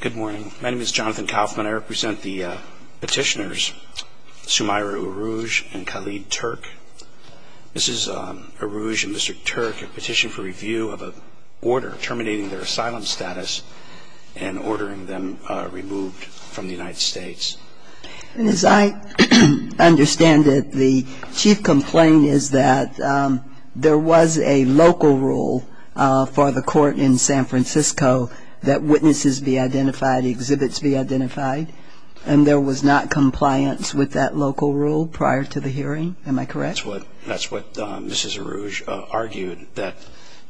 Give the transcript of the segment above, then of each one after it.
Good morning. My name is Jonathan Kaufman. I represent the petitioners Sumaira Urooj and Khalid Turk. Mrs. Urooj and Mr. Turk have petitioned for review of an order terminating their asylum status and ordering them removed from the United States. And as I understand it, the chief complaint is that there was a local rule for the court in San Francisco that witnesses be identified, exhibits be identified, and there was not compliance with that local rule prior to the hearing. Am I correct? That's what Mrs. Urooj argued, that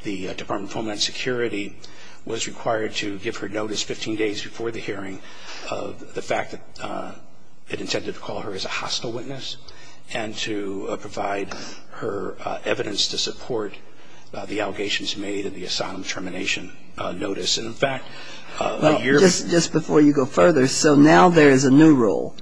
the Department of Homeland Security was required to give her notice 15 days before the hearing of the fact that it intended to call her as a hostile witness and to provide her evidence to support the allegations made in the asylum termination notice. But just before you go further, so now there is a new rule.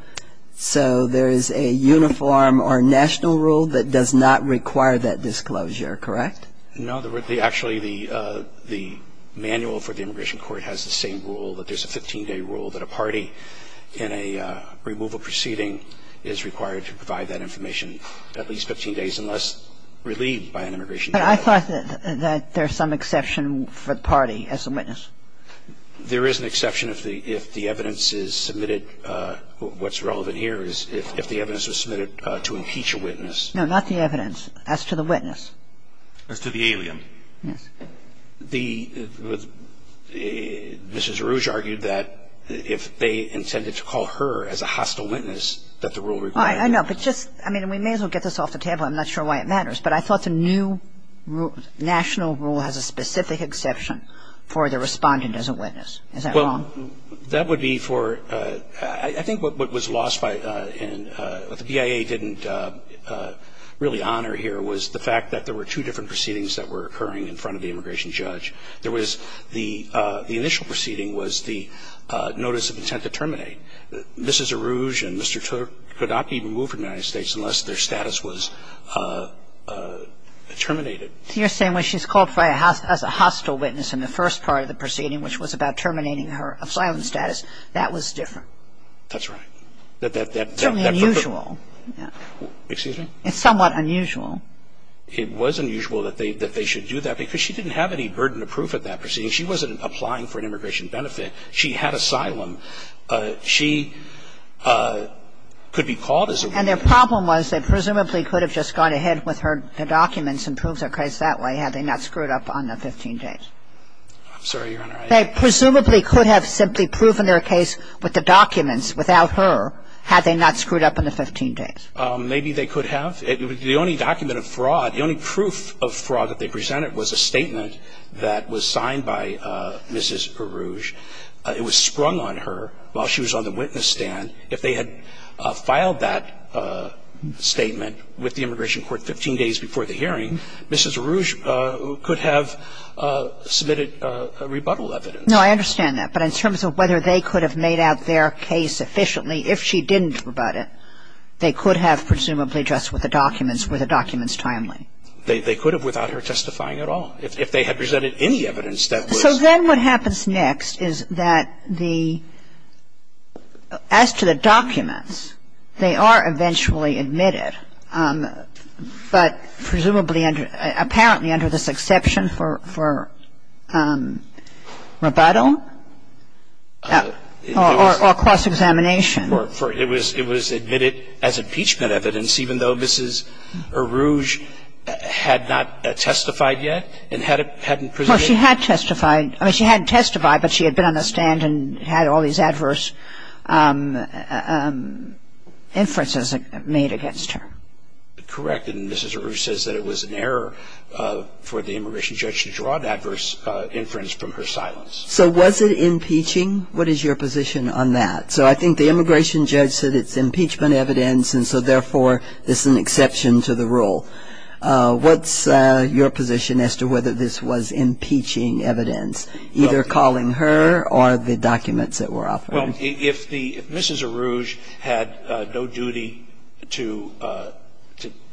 So there is a uniform or national rule that does not require that disclosure, correct? No. Actually, the manual for the immigration court has the same rule, that there's a 15-day rule that a party in a removal proceeding is required to provide that information at least 15 days unless relieved by an immigration court. I thought that there's some exception for the party as a witness. There is an exception if the evidence is submitted. What's relevant here is if the evidence was submitted to impeach a witness. No, not the evidence. As to the witness. As to the alien. Yes. The Mrs. Urooj argued that if they intended to call her as a hostile witness, that the rule required that. Well, I know. But just, I mean, we may as well get this off the table. I'm not sure why it matters. But I thought the new national rule has a specific exception for the respondent as a witness. Is that wrong? Well, that would be for, I think what was lost by and the BIA didn't really honor here was the fact that there were two different proceedings that were occurring in front of the immigration judge. There was the initial proceeding was the notice of intent to terminate. Mrs. Urooj and Mr. Turp could not be removed from the United States unless their status was terminated. You're saying when she's called as a hostile witness in the first part of the proceeding, which was about terminating her asylum status, that was different? That's right. That's certainly unusual. Excuse me? It's somewhat unusual. It was unusual that they should do that because she didn't have any burden of proof at that proceeding. She wasn't applying for an immigration benefit. She had asylum. She could be called as a witness. And their problem was they presumably could have just gone ahead with her documents and proved their case that way had they not screwed up on the 15 days. I'm sorry, Your Honor. They presumably could have simply proven their case with the documents without her had they not screwed up on the 15 days. Maybe they could have. The only document of fraud, the only proof of fraud that they presented was a statement that was signed by Mrs. Urooj. It was sprung on her while she was on the witness stand. If they had filed that statement with the immigration court 15 days before the hearing, Mrs. Urooj could have submitted rebuttal evidence. No, I understand that. But in terms of whether they could have made out their case efficiently, if she didn't rebut it, they could have presumably just with the documents, with the documents timely. They could have without her testifying at all. If they had presented any evidence that was So then what happens next is that the, as to the documents, they are eventually admitted, but presumably under, apparently under this exception for rebuttal or cross-examination. It was admitted as impeachment evidence, even though Mrs. Urooj had not testified yet and hadn't presented Well, she had testified. I mean, she hadn't testified, but she had been on the stand and had all these adverse inferences made against her. Correct. And Mrs. Urooj says that it was an error for the immigration judge to draw an adverse inference from her silence. So was it impeaching? What is your position on that? So I think the immigration judge said it's impeachment evidence, and so therefore this is an exception to the rule. What's your position as to whether this was impeaching evidence, either calling her or the documents that were offered? Well, if the, if Mrs. Urooj had no duty to,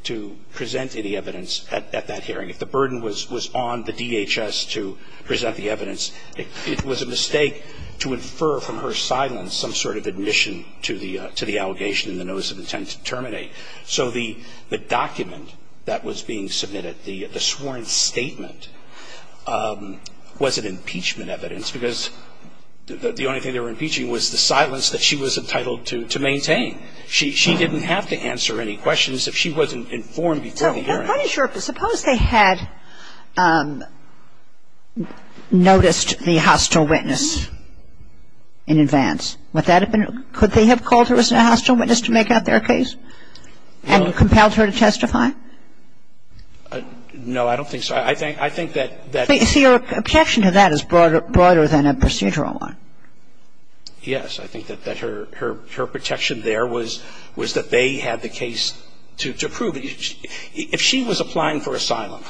to present any evidence at that hearing, if the burden was on the DHS to present the evidence, it was a mistake to infer from her silence some sort of admission to the, to the allegation in the notice of intent to terminate. So the, the document that was being submitted, the, the sworn statement, was it impeachment evidence? Because the only thing they were impeaching was the silence that she was entitled to, to maintain. She, she didn't have to answer any questions if she wasn't informed before the hearing. I'm not quite sure. Suppose they had noticed the hostile witness in advance. Would that have been, could they have called her a hostile witness to make out their case and compelled her to testify? No, I don't think so. I think, I think that, that's See, your objection to that is broader, broader than a procedural one. Yes. I think that, that her, her, her protection there was, was that they had the case to, to prove. I mean, if she was applying for asylum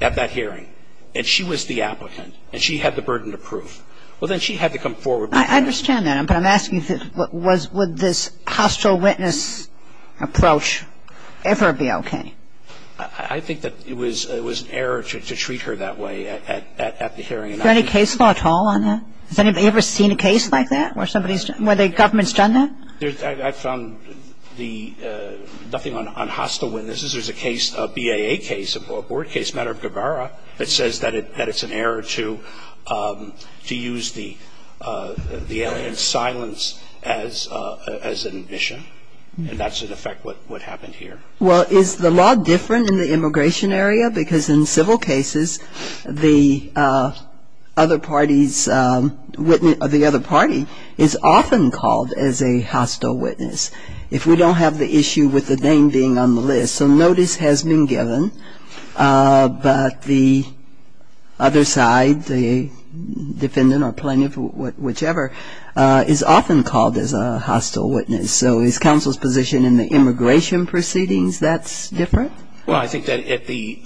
at that hearing and she was the applicant and she had the burden to prove, well, then she had to come forward. I understand that. But I'm asking if it was, would this hostile witness approach ever be okay? I, I think that it was, it was an error to, to treat her that way at, at, at the hearing. Is there any case law at all on that? Has anybody ever seen a case like that where somebody's, where the government's done that? There's, I, I found the, nothing on, on hostile witnesses. There's a case, a BAA case, a board case, matter of Gabara, that says that it, that it's an error to, to use the, the alien's silence as, as an admission. And that's, in effect, what, what happened here. Well, is the law different in the immigration area? Because in civil cases, the other party's witness, the other party is often called as a hostile witness, if we don't have the issue with the name being on the list. So notice has been given, but the other side, the defendant or plaintiff, whichever, is often called as a hostile witness. So is counsel's position in the immigration proceedings that's different? Well, I think that at the,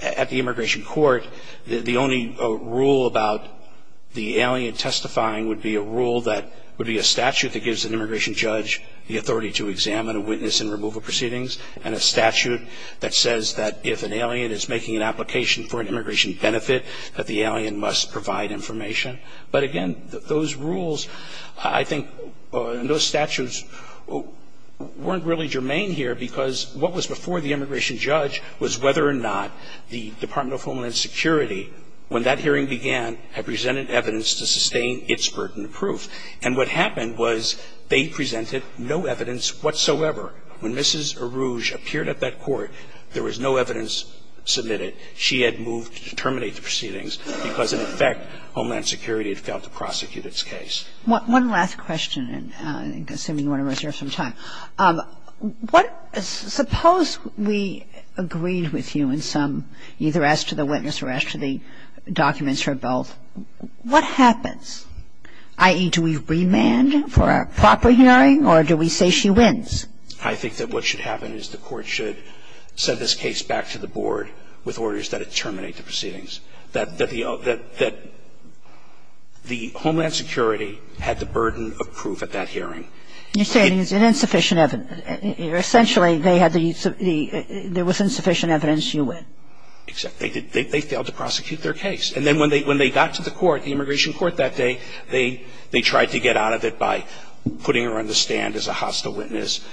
at the immigration court, the, the only rule about the alien testifying would be a rule that, would be a statute that gives an immigration judge the authority to examine a witness in removal proceedings. And a statute that says that if an alien is making an application for an immigration benefit, that the alien must provide information. But again, those rules, I think, and those statutes weren't really germane here, because what was before the immigration judge was whether or not the Department of Homeland Security, when that hearing began, had presented evidence to sustain its burden of proof. And what happened was they presented no evidence whatsoever. When Mrs. Arouge appeared at that court, there was no evidence submitted. She had moved to terminate the proceedings because, in effect, Homeland Security had failed to prosecute its case. One last question, and I assume you want to reserve some time. Suppose we agreed with you in some, either as to the witness or as to the documents or both, what happens? I.e., do we remand for a proper hearing, or do we say she wins? I think that what should happen is the Court should send this case back to the Board with orders that it terminate the proceedings, that the, that the Homeland Security had the burden of proof at that hearing. You're saying it's insufficient evidence. Essentially, they had the, there was insufficient evidence, you win. Exactly. They failed to prosecute their case. And then when they got to the court, the immigration court that day, they tried to get out of it by putting her on the stand as a hostile witness,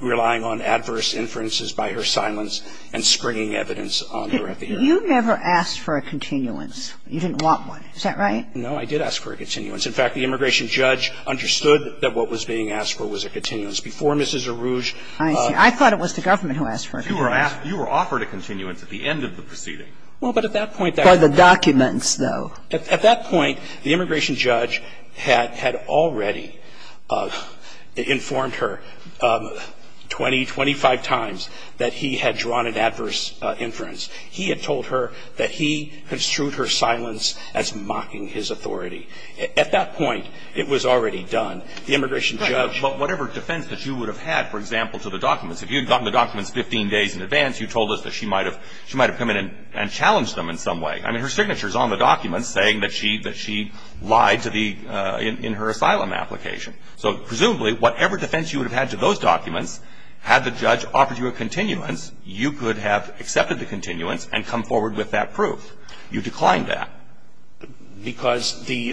relying on adverse inferences by her silence, and springing evidence on her at the hearing. You never asked for a continuance. You didn't want one. Is that right? No, I did ask for a continuance. In fact, the immigration judge understood that what was being asked for was a continuance. Before Mrs. Arouge. I see. I thought it was the government who asked for a continuance. You were asked, you were offered a continuance at the end of the proceeding. Well, but at that point. By the documents, though. At that point, the immigration judge had, had already informed her 20, 25 times that he had drawn an adverse inference. He had told her that he construed her silence as mocking his authority. At that point, it was already done. The immigration judge. Right. But whatever defense that she would have had, for example, to the documents, if you had gotten the documents 15 days in advance, you told us that she might have, she might have come in and challenged them in some way. I mean, her signature is on the documents saying that she, that she lied to the, in her asylum application. So presumably, whatever defense you would have had to those documents, had the judge offered you a continuance, you could have accepted the continuance and come forward with that proof. You declined that. Because the,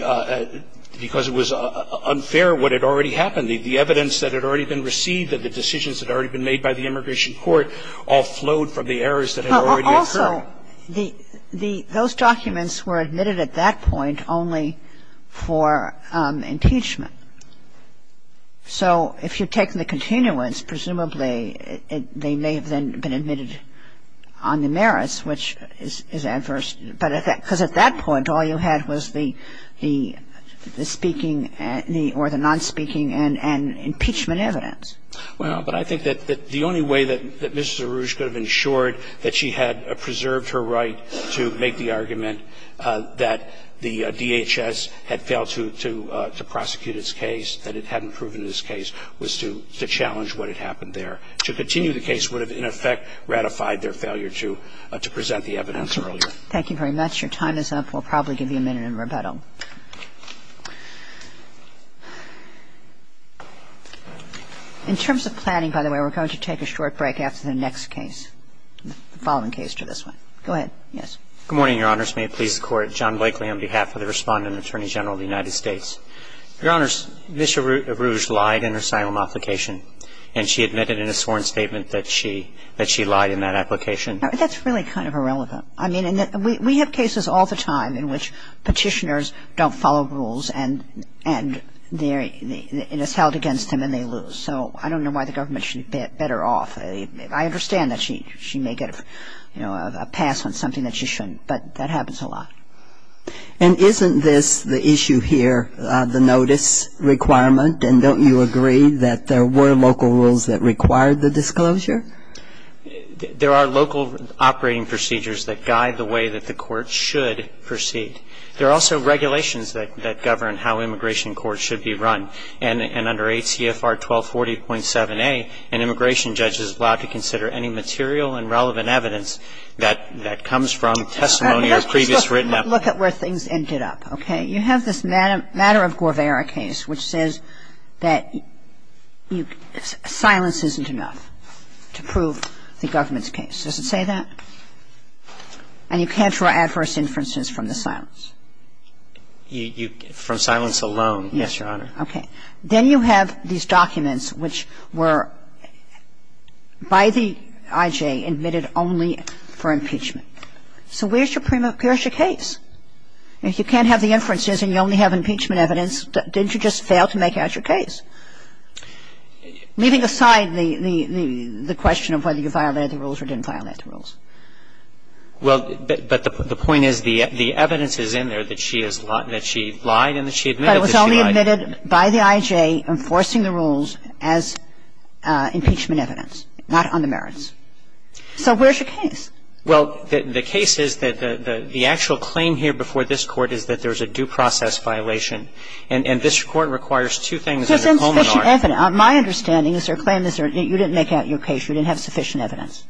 because it was unfair what had already happened. The, the evidence that had already been received and the decisions that had already been made by the immigration court all flowed from the errors that had already occurred. Also, the, the, those documents were admitted at that point only for impeachment. So if you've taken the continuance, presumably, they may have then been admitted on the merits, which is, is adverse. But at that, because at that point, all you had was the, the, the speaking or the nonspeaking and, and impeachment evidence. Well, but I think that, that the only way that, that Mrs. Arouge could have ensured that she had preserved her right to make the argument that the DHS had failed to, to, to prosecute its case, that it hadn't proven its case, was to, to challenge what had happened there. To continue the case would have, in effect, ratified their failure to, to present the evidence earlier. Thank you very much. Your time is up. We'll probably give you a minute in rebuttal. In terms of planning, by the way, we're going to take a short break after the next case, the following case to this one. Go ahead. Yes. Good morning, Your Honors. May it please the Court. John Blakely on behalf of the Respondent Attorney General of the United States. Your Honors, Ms. Arouge lied in her asylum application, and she admitted in a sworn statement that she, that she lied in that application. That's really kind of irrelevant. I mean, we have cases all the time in which Petitioners don't follow rules and, and it is held against them and they lose. So I don't know why the government should bet her off. I understand that she, she may get, you know, a pass on something that she shouldn't, but that happens a lot. And isn't this the issue here, the notice requirement? And don't you agree that there were local rules that required the disclosure? There are local operating procedures that guide the way that the court should proceed. There are also regulations that, that govern how immigration courts should be run. And under ACFR 1240.7a, an immigration judge is allowed to consider any material and relevant evidence that, that comes from testimony or previous written application. Let's look at where things ended up, okay? You have this matter of Guevara case which says that silence isn't enough. Silence isn't enough to prove the government's case. Does it say that? And you can't draw adverse inferences from the silence. You, you, from silence alone, yes, Your Honor. Okay. Then you have these documents which were, by the IJ, admitted only for impeachment. So where's your, where's your case? If you can't have the inferences and you only have impeachment evidence, didn't you just fail to make out your case? Leaving aside the, the, the question of whether you violated the rules or didn't violate the rules. Well, but, but the point is the, the evidence is in there that she has, that she lied and that she admitted that she lied. But it was only admitted by the IJ enforcing the rules as impeachment evidence, not on the merits. So where's your case? Well, the, the case is that the, the actual claim here before this Court is that there's a due process violation. And, and this Court requires two things. There's insufficient evidence. My understanding is their claim is you didn't make out your case. You didn't have sufficient evidence.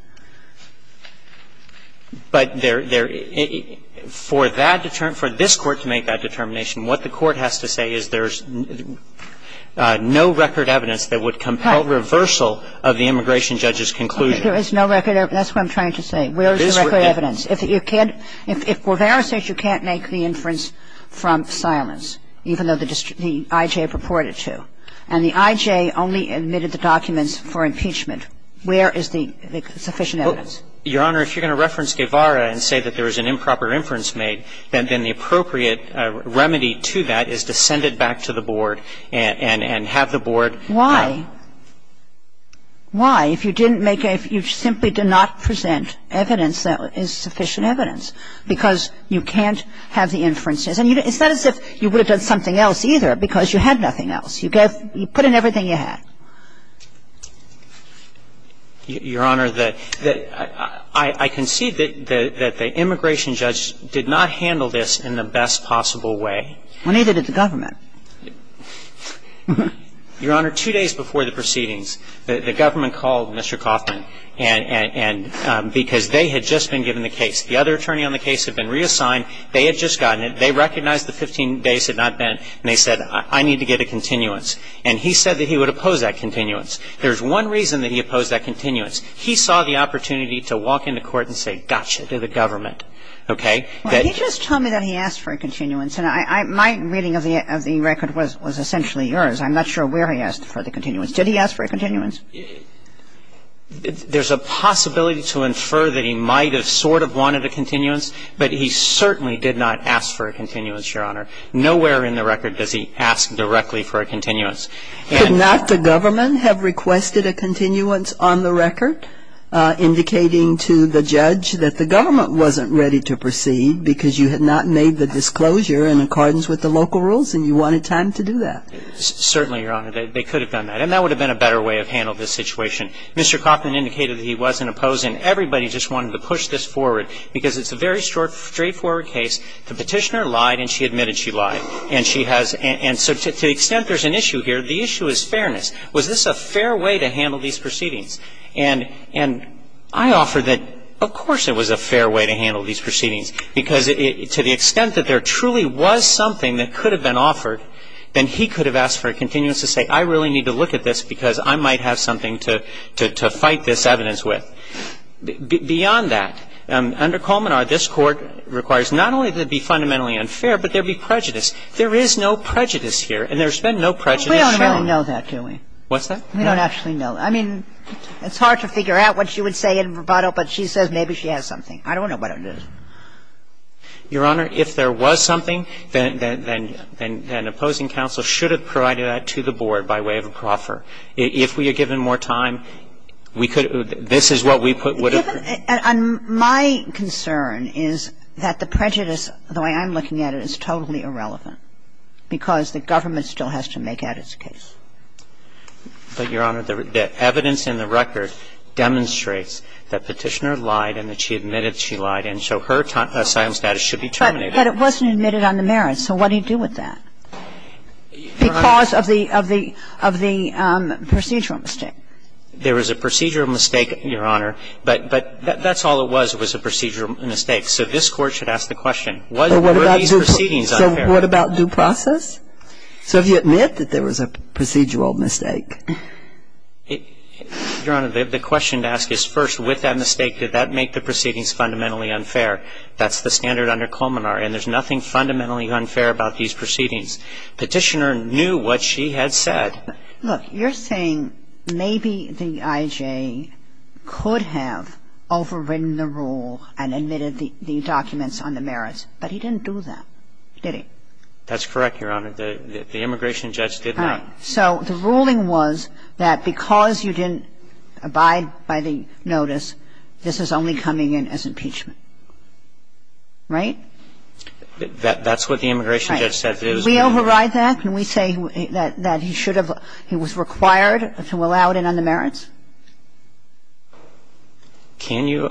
But there, there, for that, for this Court to make that determination, what the Court has to say is there's no record evidence that would compel reversal of the immigration judge's conclusion. There is no record evidence. That's what I'm trying to say. Where is the record evidence? If you can't, if Guevara says you can't make the inference from silence, even though the district, the IJ purported to, and the IJ only admitted the documents for impeachment, where is the sufficient evidence? Your Honor, if you're going to reference Guevara and say that there was an improper inference made, then, then the appropriate remedy to that is to send it back to the Why? If you didn't make a, you simply did not present evidence that is sufficient evidence, because you can't have the inferences. And it's not as if you would have done something else, either, because you had nothing else. You gave, you put in everything you had. Your Honor, the, the, I, I concede that, that the immigration judge did not handle this in the best possible way. Well, neither did the government. Your Honor, two days before the proceedings, the, the government called Mr. Coffman and, and, and because they had just been given the case. The other attorney on the case had been reassigned. They had just gotten it. They recognized the 15 days had not been, and they said, I, I need to get a continuance. And he said that he would oppose that continuance. There's one reason that he opposed that continuance. He saw the opportunity to walk into court and say, gotcha, to the government. Okay? Well, he just told me that he asked for a continuance. And I, I, my reading of the, of the record was, was essentially yours. I'm not sure where he asked for the continuance. Did he ask for a continuance? There's a possibility to infer that he might have sort of wanted a continuance, but he certainly did not ask for a continuance, Your Honor. Nowhere in the record does he ask directly for a continuance. Could not the government have requested a continuance on the record indicating to the judge that the government wasn't ready to proceed because you had not made the disclosure in accordance with the local rules and you wanted time to do that? Certainly, Your Honor. They, they could have done that. And that would have been a better way of handling this situation. Mr. Coffman indicated that he wasn't opposing. Everybody just wanted to push this forward because it's a very short, straightforward case. The Petitioner lied and she admitted she lied. And she has, and so to the extent there's an issue here, the issue is fairness. Was this a fair way to handle these proceedings? And, and I offer that of course it was a fair way to handle these proceedings because to the extent that there truly was something that could have been offered, then he could have asked for a continuance to say I really need to look at this because I might have something to, to fight this evidence with. Beyond that, under Colmenar, this Court requires not only that it be fundamentally unfair, but there be prejudice. There is no prejudice here and there's been no prejudice shown. We don't really know that, do we? What's that? We don't actually know. I mean, it's hard to figure out what she would say in verbatim, but she says maybe she has something. I don't know what it is. Your Honor, if there was something, then, then, then, then, then opposing counsel should have provided that to the Board by way of a proffer. If we had given more time, we could have, this is what we put, would have put. My concern is that the prejudice, the way I'm looking at it, is totally irrelevant because the government still has to make out its case. But, Your Honor, the evidence in the record demonstrates that Petitioner lied and that she lied, and so her asylum status should be terminated. But it wasn't admitted on the merits. So what do you do with that? Your Honor. Because of the, of the, of the procedural mistake. There was a procedural mistake, Your Honor, but, but that's all it was, was a procedural mistake. So this Court should ask the question, were these proceedings unfair? So what about due process? So if you admit that there was a procedural mistake? Your Honor, the question to ask is, first, with that mistake, did that make the proceedings fundamentally unfair? That's the standard under Colmenar, and there's nothing fundamentally unfair about these proceedings. Petitioner knew what she had said. Look, you're saying maybe the I.J. could have overridden the rule and admitted the documents on the merits, but he didn't do that, did he? That's correct, Your Honor. The immigration judge did not. Right. So the ruling was that because you didn't abide by the notice, this is only coming in as impeachment, right? That's what the immigration judge said. Right. Can we override that? Can we say that he should have, he was required to allow it in on the merits? Can you?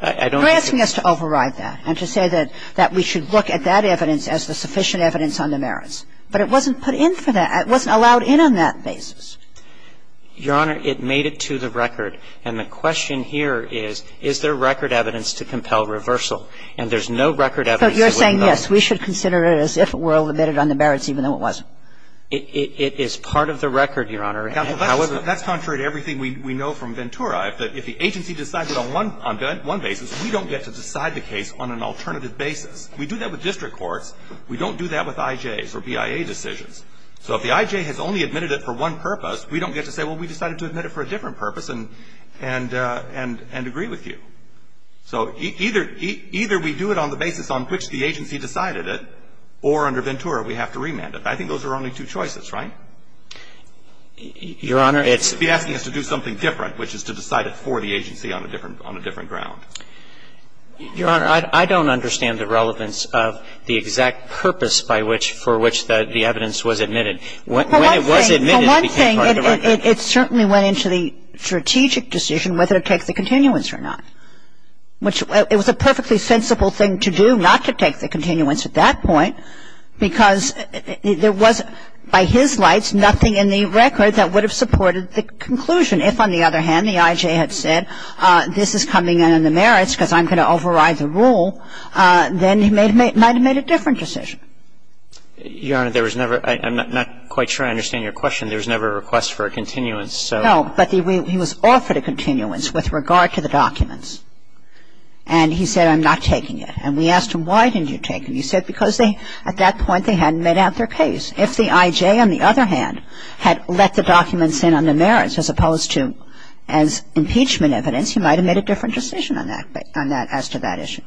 You're asking us to override that and to say that we should look at that evidence as the sufficient evidence on the merits. But it wasn't put in for that. It wasn't allowed in on that basis. Your Honor, it made it to the record. And the question here is, is there record evidence to compel reversal? And there's no record evidence that wouldn't allow it. So you're saying, yes, we should consider it as if it were all admitted on the merits even though it wasn't? It is part of the record, Your Honor. That's contrary to everything we know from Ventura. If the agency decides it on one basis, we don't get to decide the case on an alternative basis. We do that with district courts. We don't do that with I.J.s or BIA decisions. So if the I.J. has only admitted it for one purpose, we don't get to say, well, we decided to admit it for a different purpose and agree with you. So either we do it on the basis on which the agency decided it, or under Ventura we have to remand it. I think those are only two choices, right? Your Honor, it's be asking us to do something different, which is to decide it for the agency on a different ground. Your Honor, I don't understand the relevance of the exact purpose by which, for which the evidence was admitted. When it was admitted, it became part of the record. It certainly went into the strategic decision whether to take the continuance or not, which it was a perfectly sensible thing to do not to take the continuance at that point, because there was, by his lights, nothing in the record that would have supported the conclusion. If, on the other hand, the I.J. had said this is coming in on the merits because I'm going to override the rule, then he might have made a different decision. Your Honor, there was never – I'm not quite sure I understand your question. There was never a request for a continuance, so. No, but he was offered a continuance with regard to the documents. And he said, I'm not taking it. And we asked him, why didn't you take it? He said because they, at that point, they hadn't made out their case. If the I.J., on the other hand, had let the documents in on the merits as opposed to as impeachment evidence, he might have made a different decision on that, on that – as to that issue.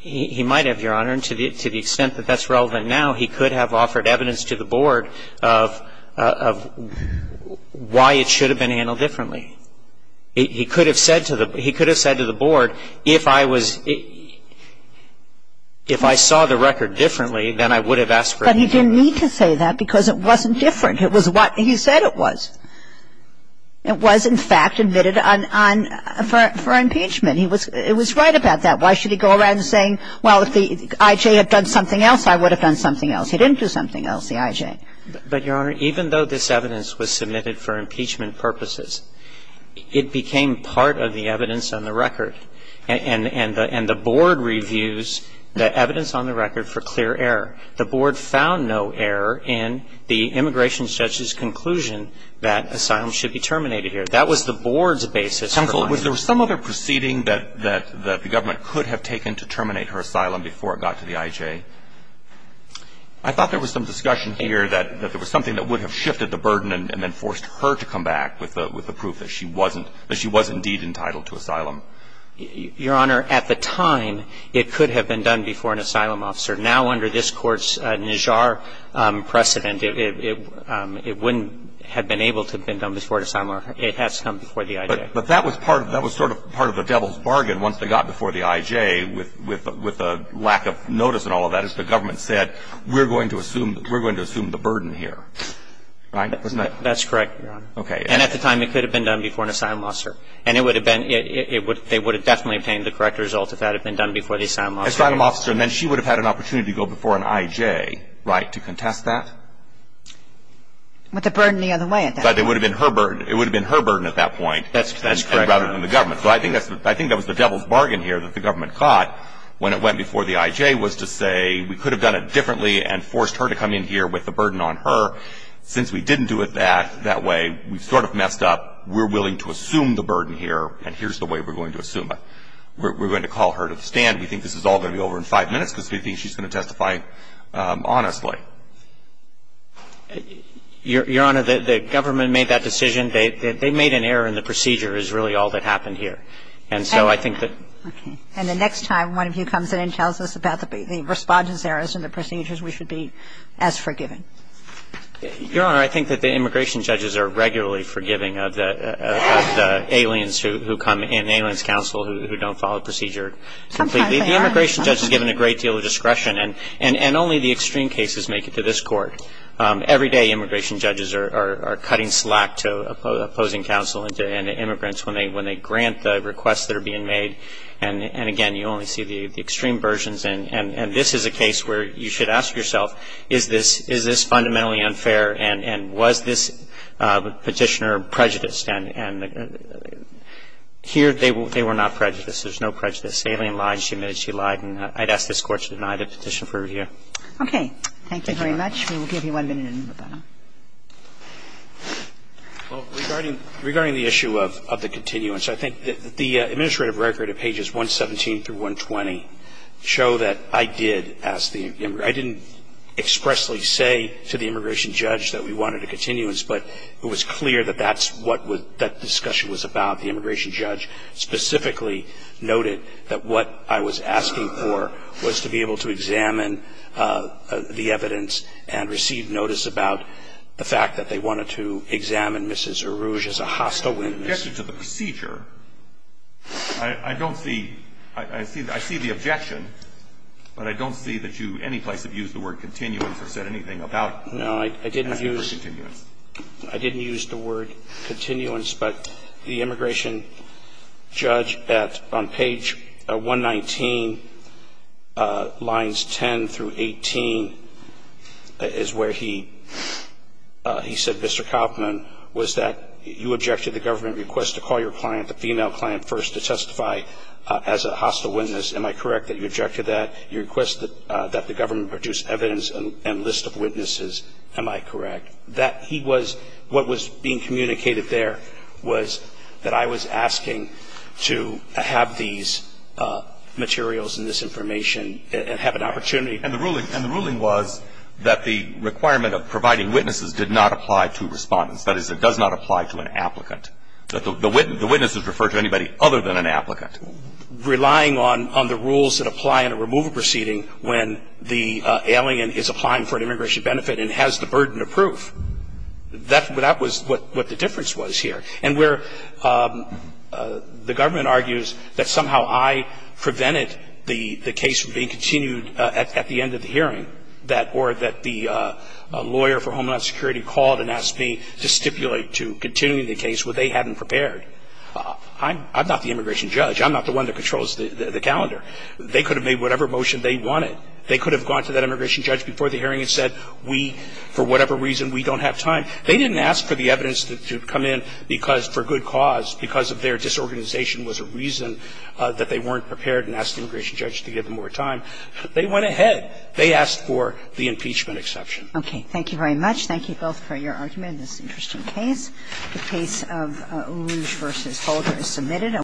He might have, Your Honor. And to the extent that that's relevant now, he could have offered evidence to the Board of why it should have been handled differently. He could have said to the – he could have said to the Board, if I was – if I saw the record differently, then I would have asked for a continuance. But he didn't need to say that because it wasn't different. It was what he said it was. It was, in fact, admitted on – for impeachment. He was – it was right about that. Why should he go around saying, well, if the I.J. had done something else, I would have done something else. He didn't do something else, the I.J. But, Your Honor, even though this evidence was submitted for impeachment purposes, it became part of the evidence on the record. And the Board reviews the evidence on the record for clear error. The Board found no error in the immigration judge's conclusion that asylum should be terminated here. That was the Board's basis for lying. Was there some other proceeding that the government could have taken to terminate her asylum before it got to the I.J.? I thought there was some discussion here that there was something that would have shifted the burden and then forced her to come back with the proof that she wasn't – that she was indeed entitled to asylum. Your Honor, at the time, it could have been done before an asylum officer. Now, under this Court's Najjar precedent, it wouldn't have been able to have been done before an asylum officer. It has come before the I.J. But that was sort of part of the devil's bargain once they got before the I.J. with the lack of notice and all of that, as the government said, we're going to assume the burden here. Right? That's correct, Your Honor. Okay. And at the time, it could have been done before an asylum officer. And it would have been – they would have definitely obtained the correct result if that had been done before the asylum officer. Asylum officer, and then she would have had an opportunity to go before an I.J., right, to contest that? With the burden the other way at that point. But it would have been her burden. It would have been her burden at that point. That's correct, Your Honor. Rather than the government. So I think that was the devil's bargain here that the government caught when it went before the I.J. was to say we could have done it differently and forced her to come in here with the burden on her. Since we didn't do it that way, we've sort of messed up. We're willing to assume the burden here, and here's the way we're going to assume it. We're going to call her to the stand. We think this is all going to be over in five minutes because we think she's going to testify honestly. Your Honor, the government made that decision. They made an error in the procedure is really all that happened here. And so I think that ‑‑ Okay. And the next time one of you comes in and tells us about the response errors and the procedures, we should be as forgiving. Your Honor, I think that the immigration judges are regularly forgiving of the aliens who come in, aliens counsel who don't follow procedure completely. Sometimes they are. The immigration judge is given a great deal of discretion, and only the extreme cases make it to this Court. Every day immigration judges are cutting slack to opposing counsel and to immigrants when they grant the requests that are being made. And, again, you only see the extreme versions. And this is a case where you should ask yourself, is this fundamentally unfair, and was this Petitioner prejudiced? And here they were not prejudiced. There's no prejudice. The alien lied, and she admitted she lied. And I'd ask this Court to deny the Petitioner for review. Okay. Thank you very much. We will give you one minute to move on. Well, regarding the issue of the continuance, I think that the administrative record of pages 117 through 120 show that I did ask the immigration judge. I didn't expressly say to the immigration judge that we wanted a continuance, but it was clear that that's what that discussion was about. The immigration judge specifically noted that what I was asking for was to be able to examine the evidence and receive notice about the fact that they wanted to examine Mrs. Eruge as a hostile witness. In addition to the procedure, I don't see – I see the objection, but I don't see that you anyplace have used the word continuance or said anything about that. No, I didn't use the word continuance, but the immigration judge at – on page 119 lines 10 through 18 is where he said, Mr. Kaufman, was that you objected to the government request to call your client, the female client, first to testify as a hostile witness. Am I correct that you objected to that? You requested that the government produce evidence and list of witnesses. Am I correct? That he was – what was being communicated there was that I was asking to have these materials and this information and have an opportunity. And the ruling was that the requirement of providing witnesses did not apply to respondents. That is, it does not apply to an applicant. The witnesses refer to anybody other than an applicant. Relying on the rules that apply in a removal proceeding when the alien is applying for an immigration benefit and has the burden of proof, that was what the difference was here. And where the government argues that somehow I prevented the case from being continued at the end of the hearing, that – or that the lawyer for Homeland Security called and asked me to stipulate to continuing the case when they hadn't prepared. I'm not the immigration judge. I'm not the one that controls the calendar. They could have made whatever motion they wanted. They could have gone to that immigration judge before the hearing and said, we – for whatever reason, we don't have time. They didn't ask for the evidence to come in because – for good cause, because of their disorganization was a reason that they weren't prepared and asked the immigration judge to give them more time. They went ahead. They asked for the impeachment exception. Okay. Thank you very much. Thank you both for your argument in this interesting case. The case of Oruj v. Holder is submitted.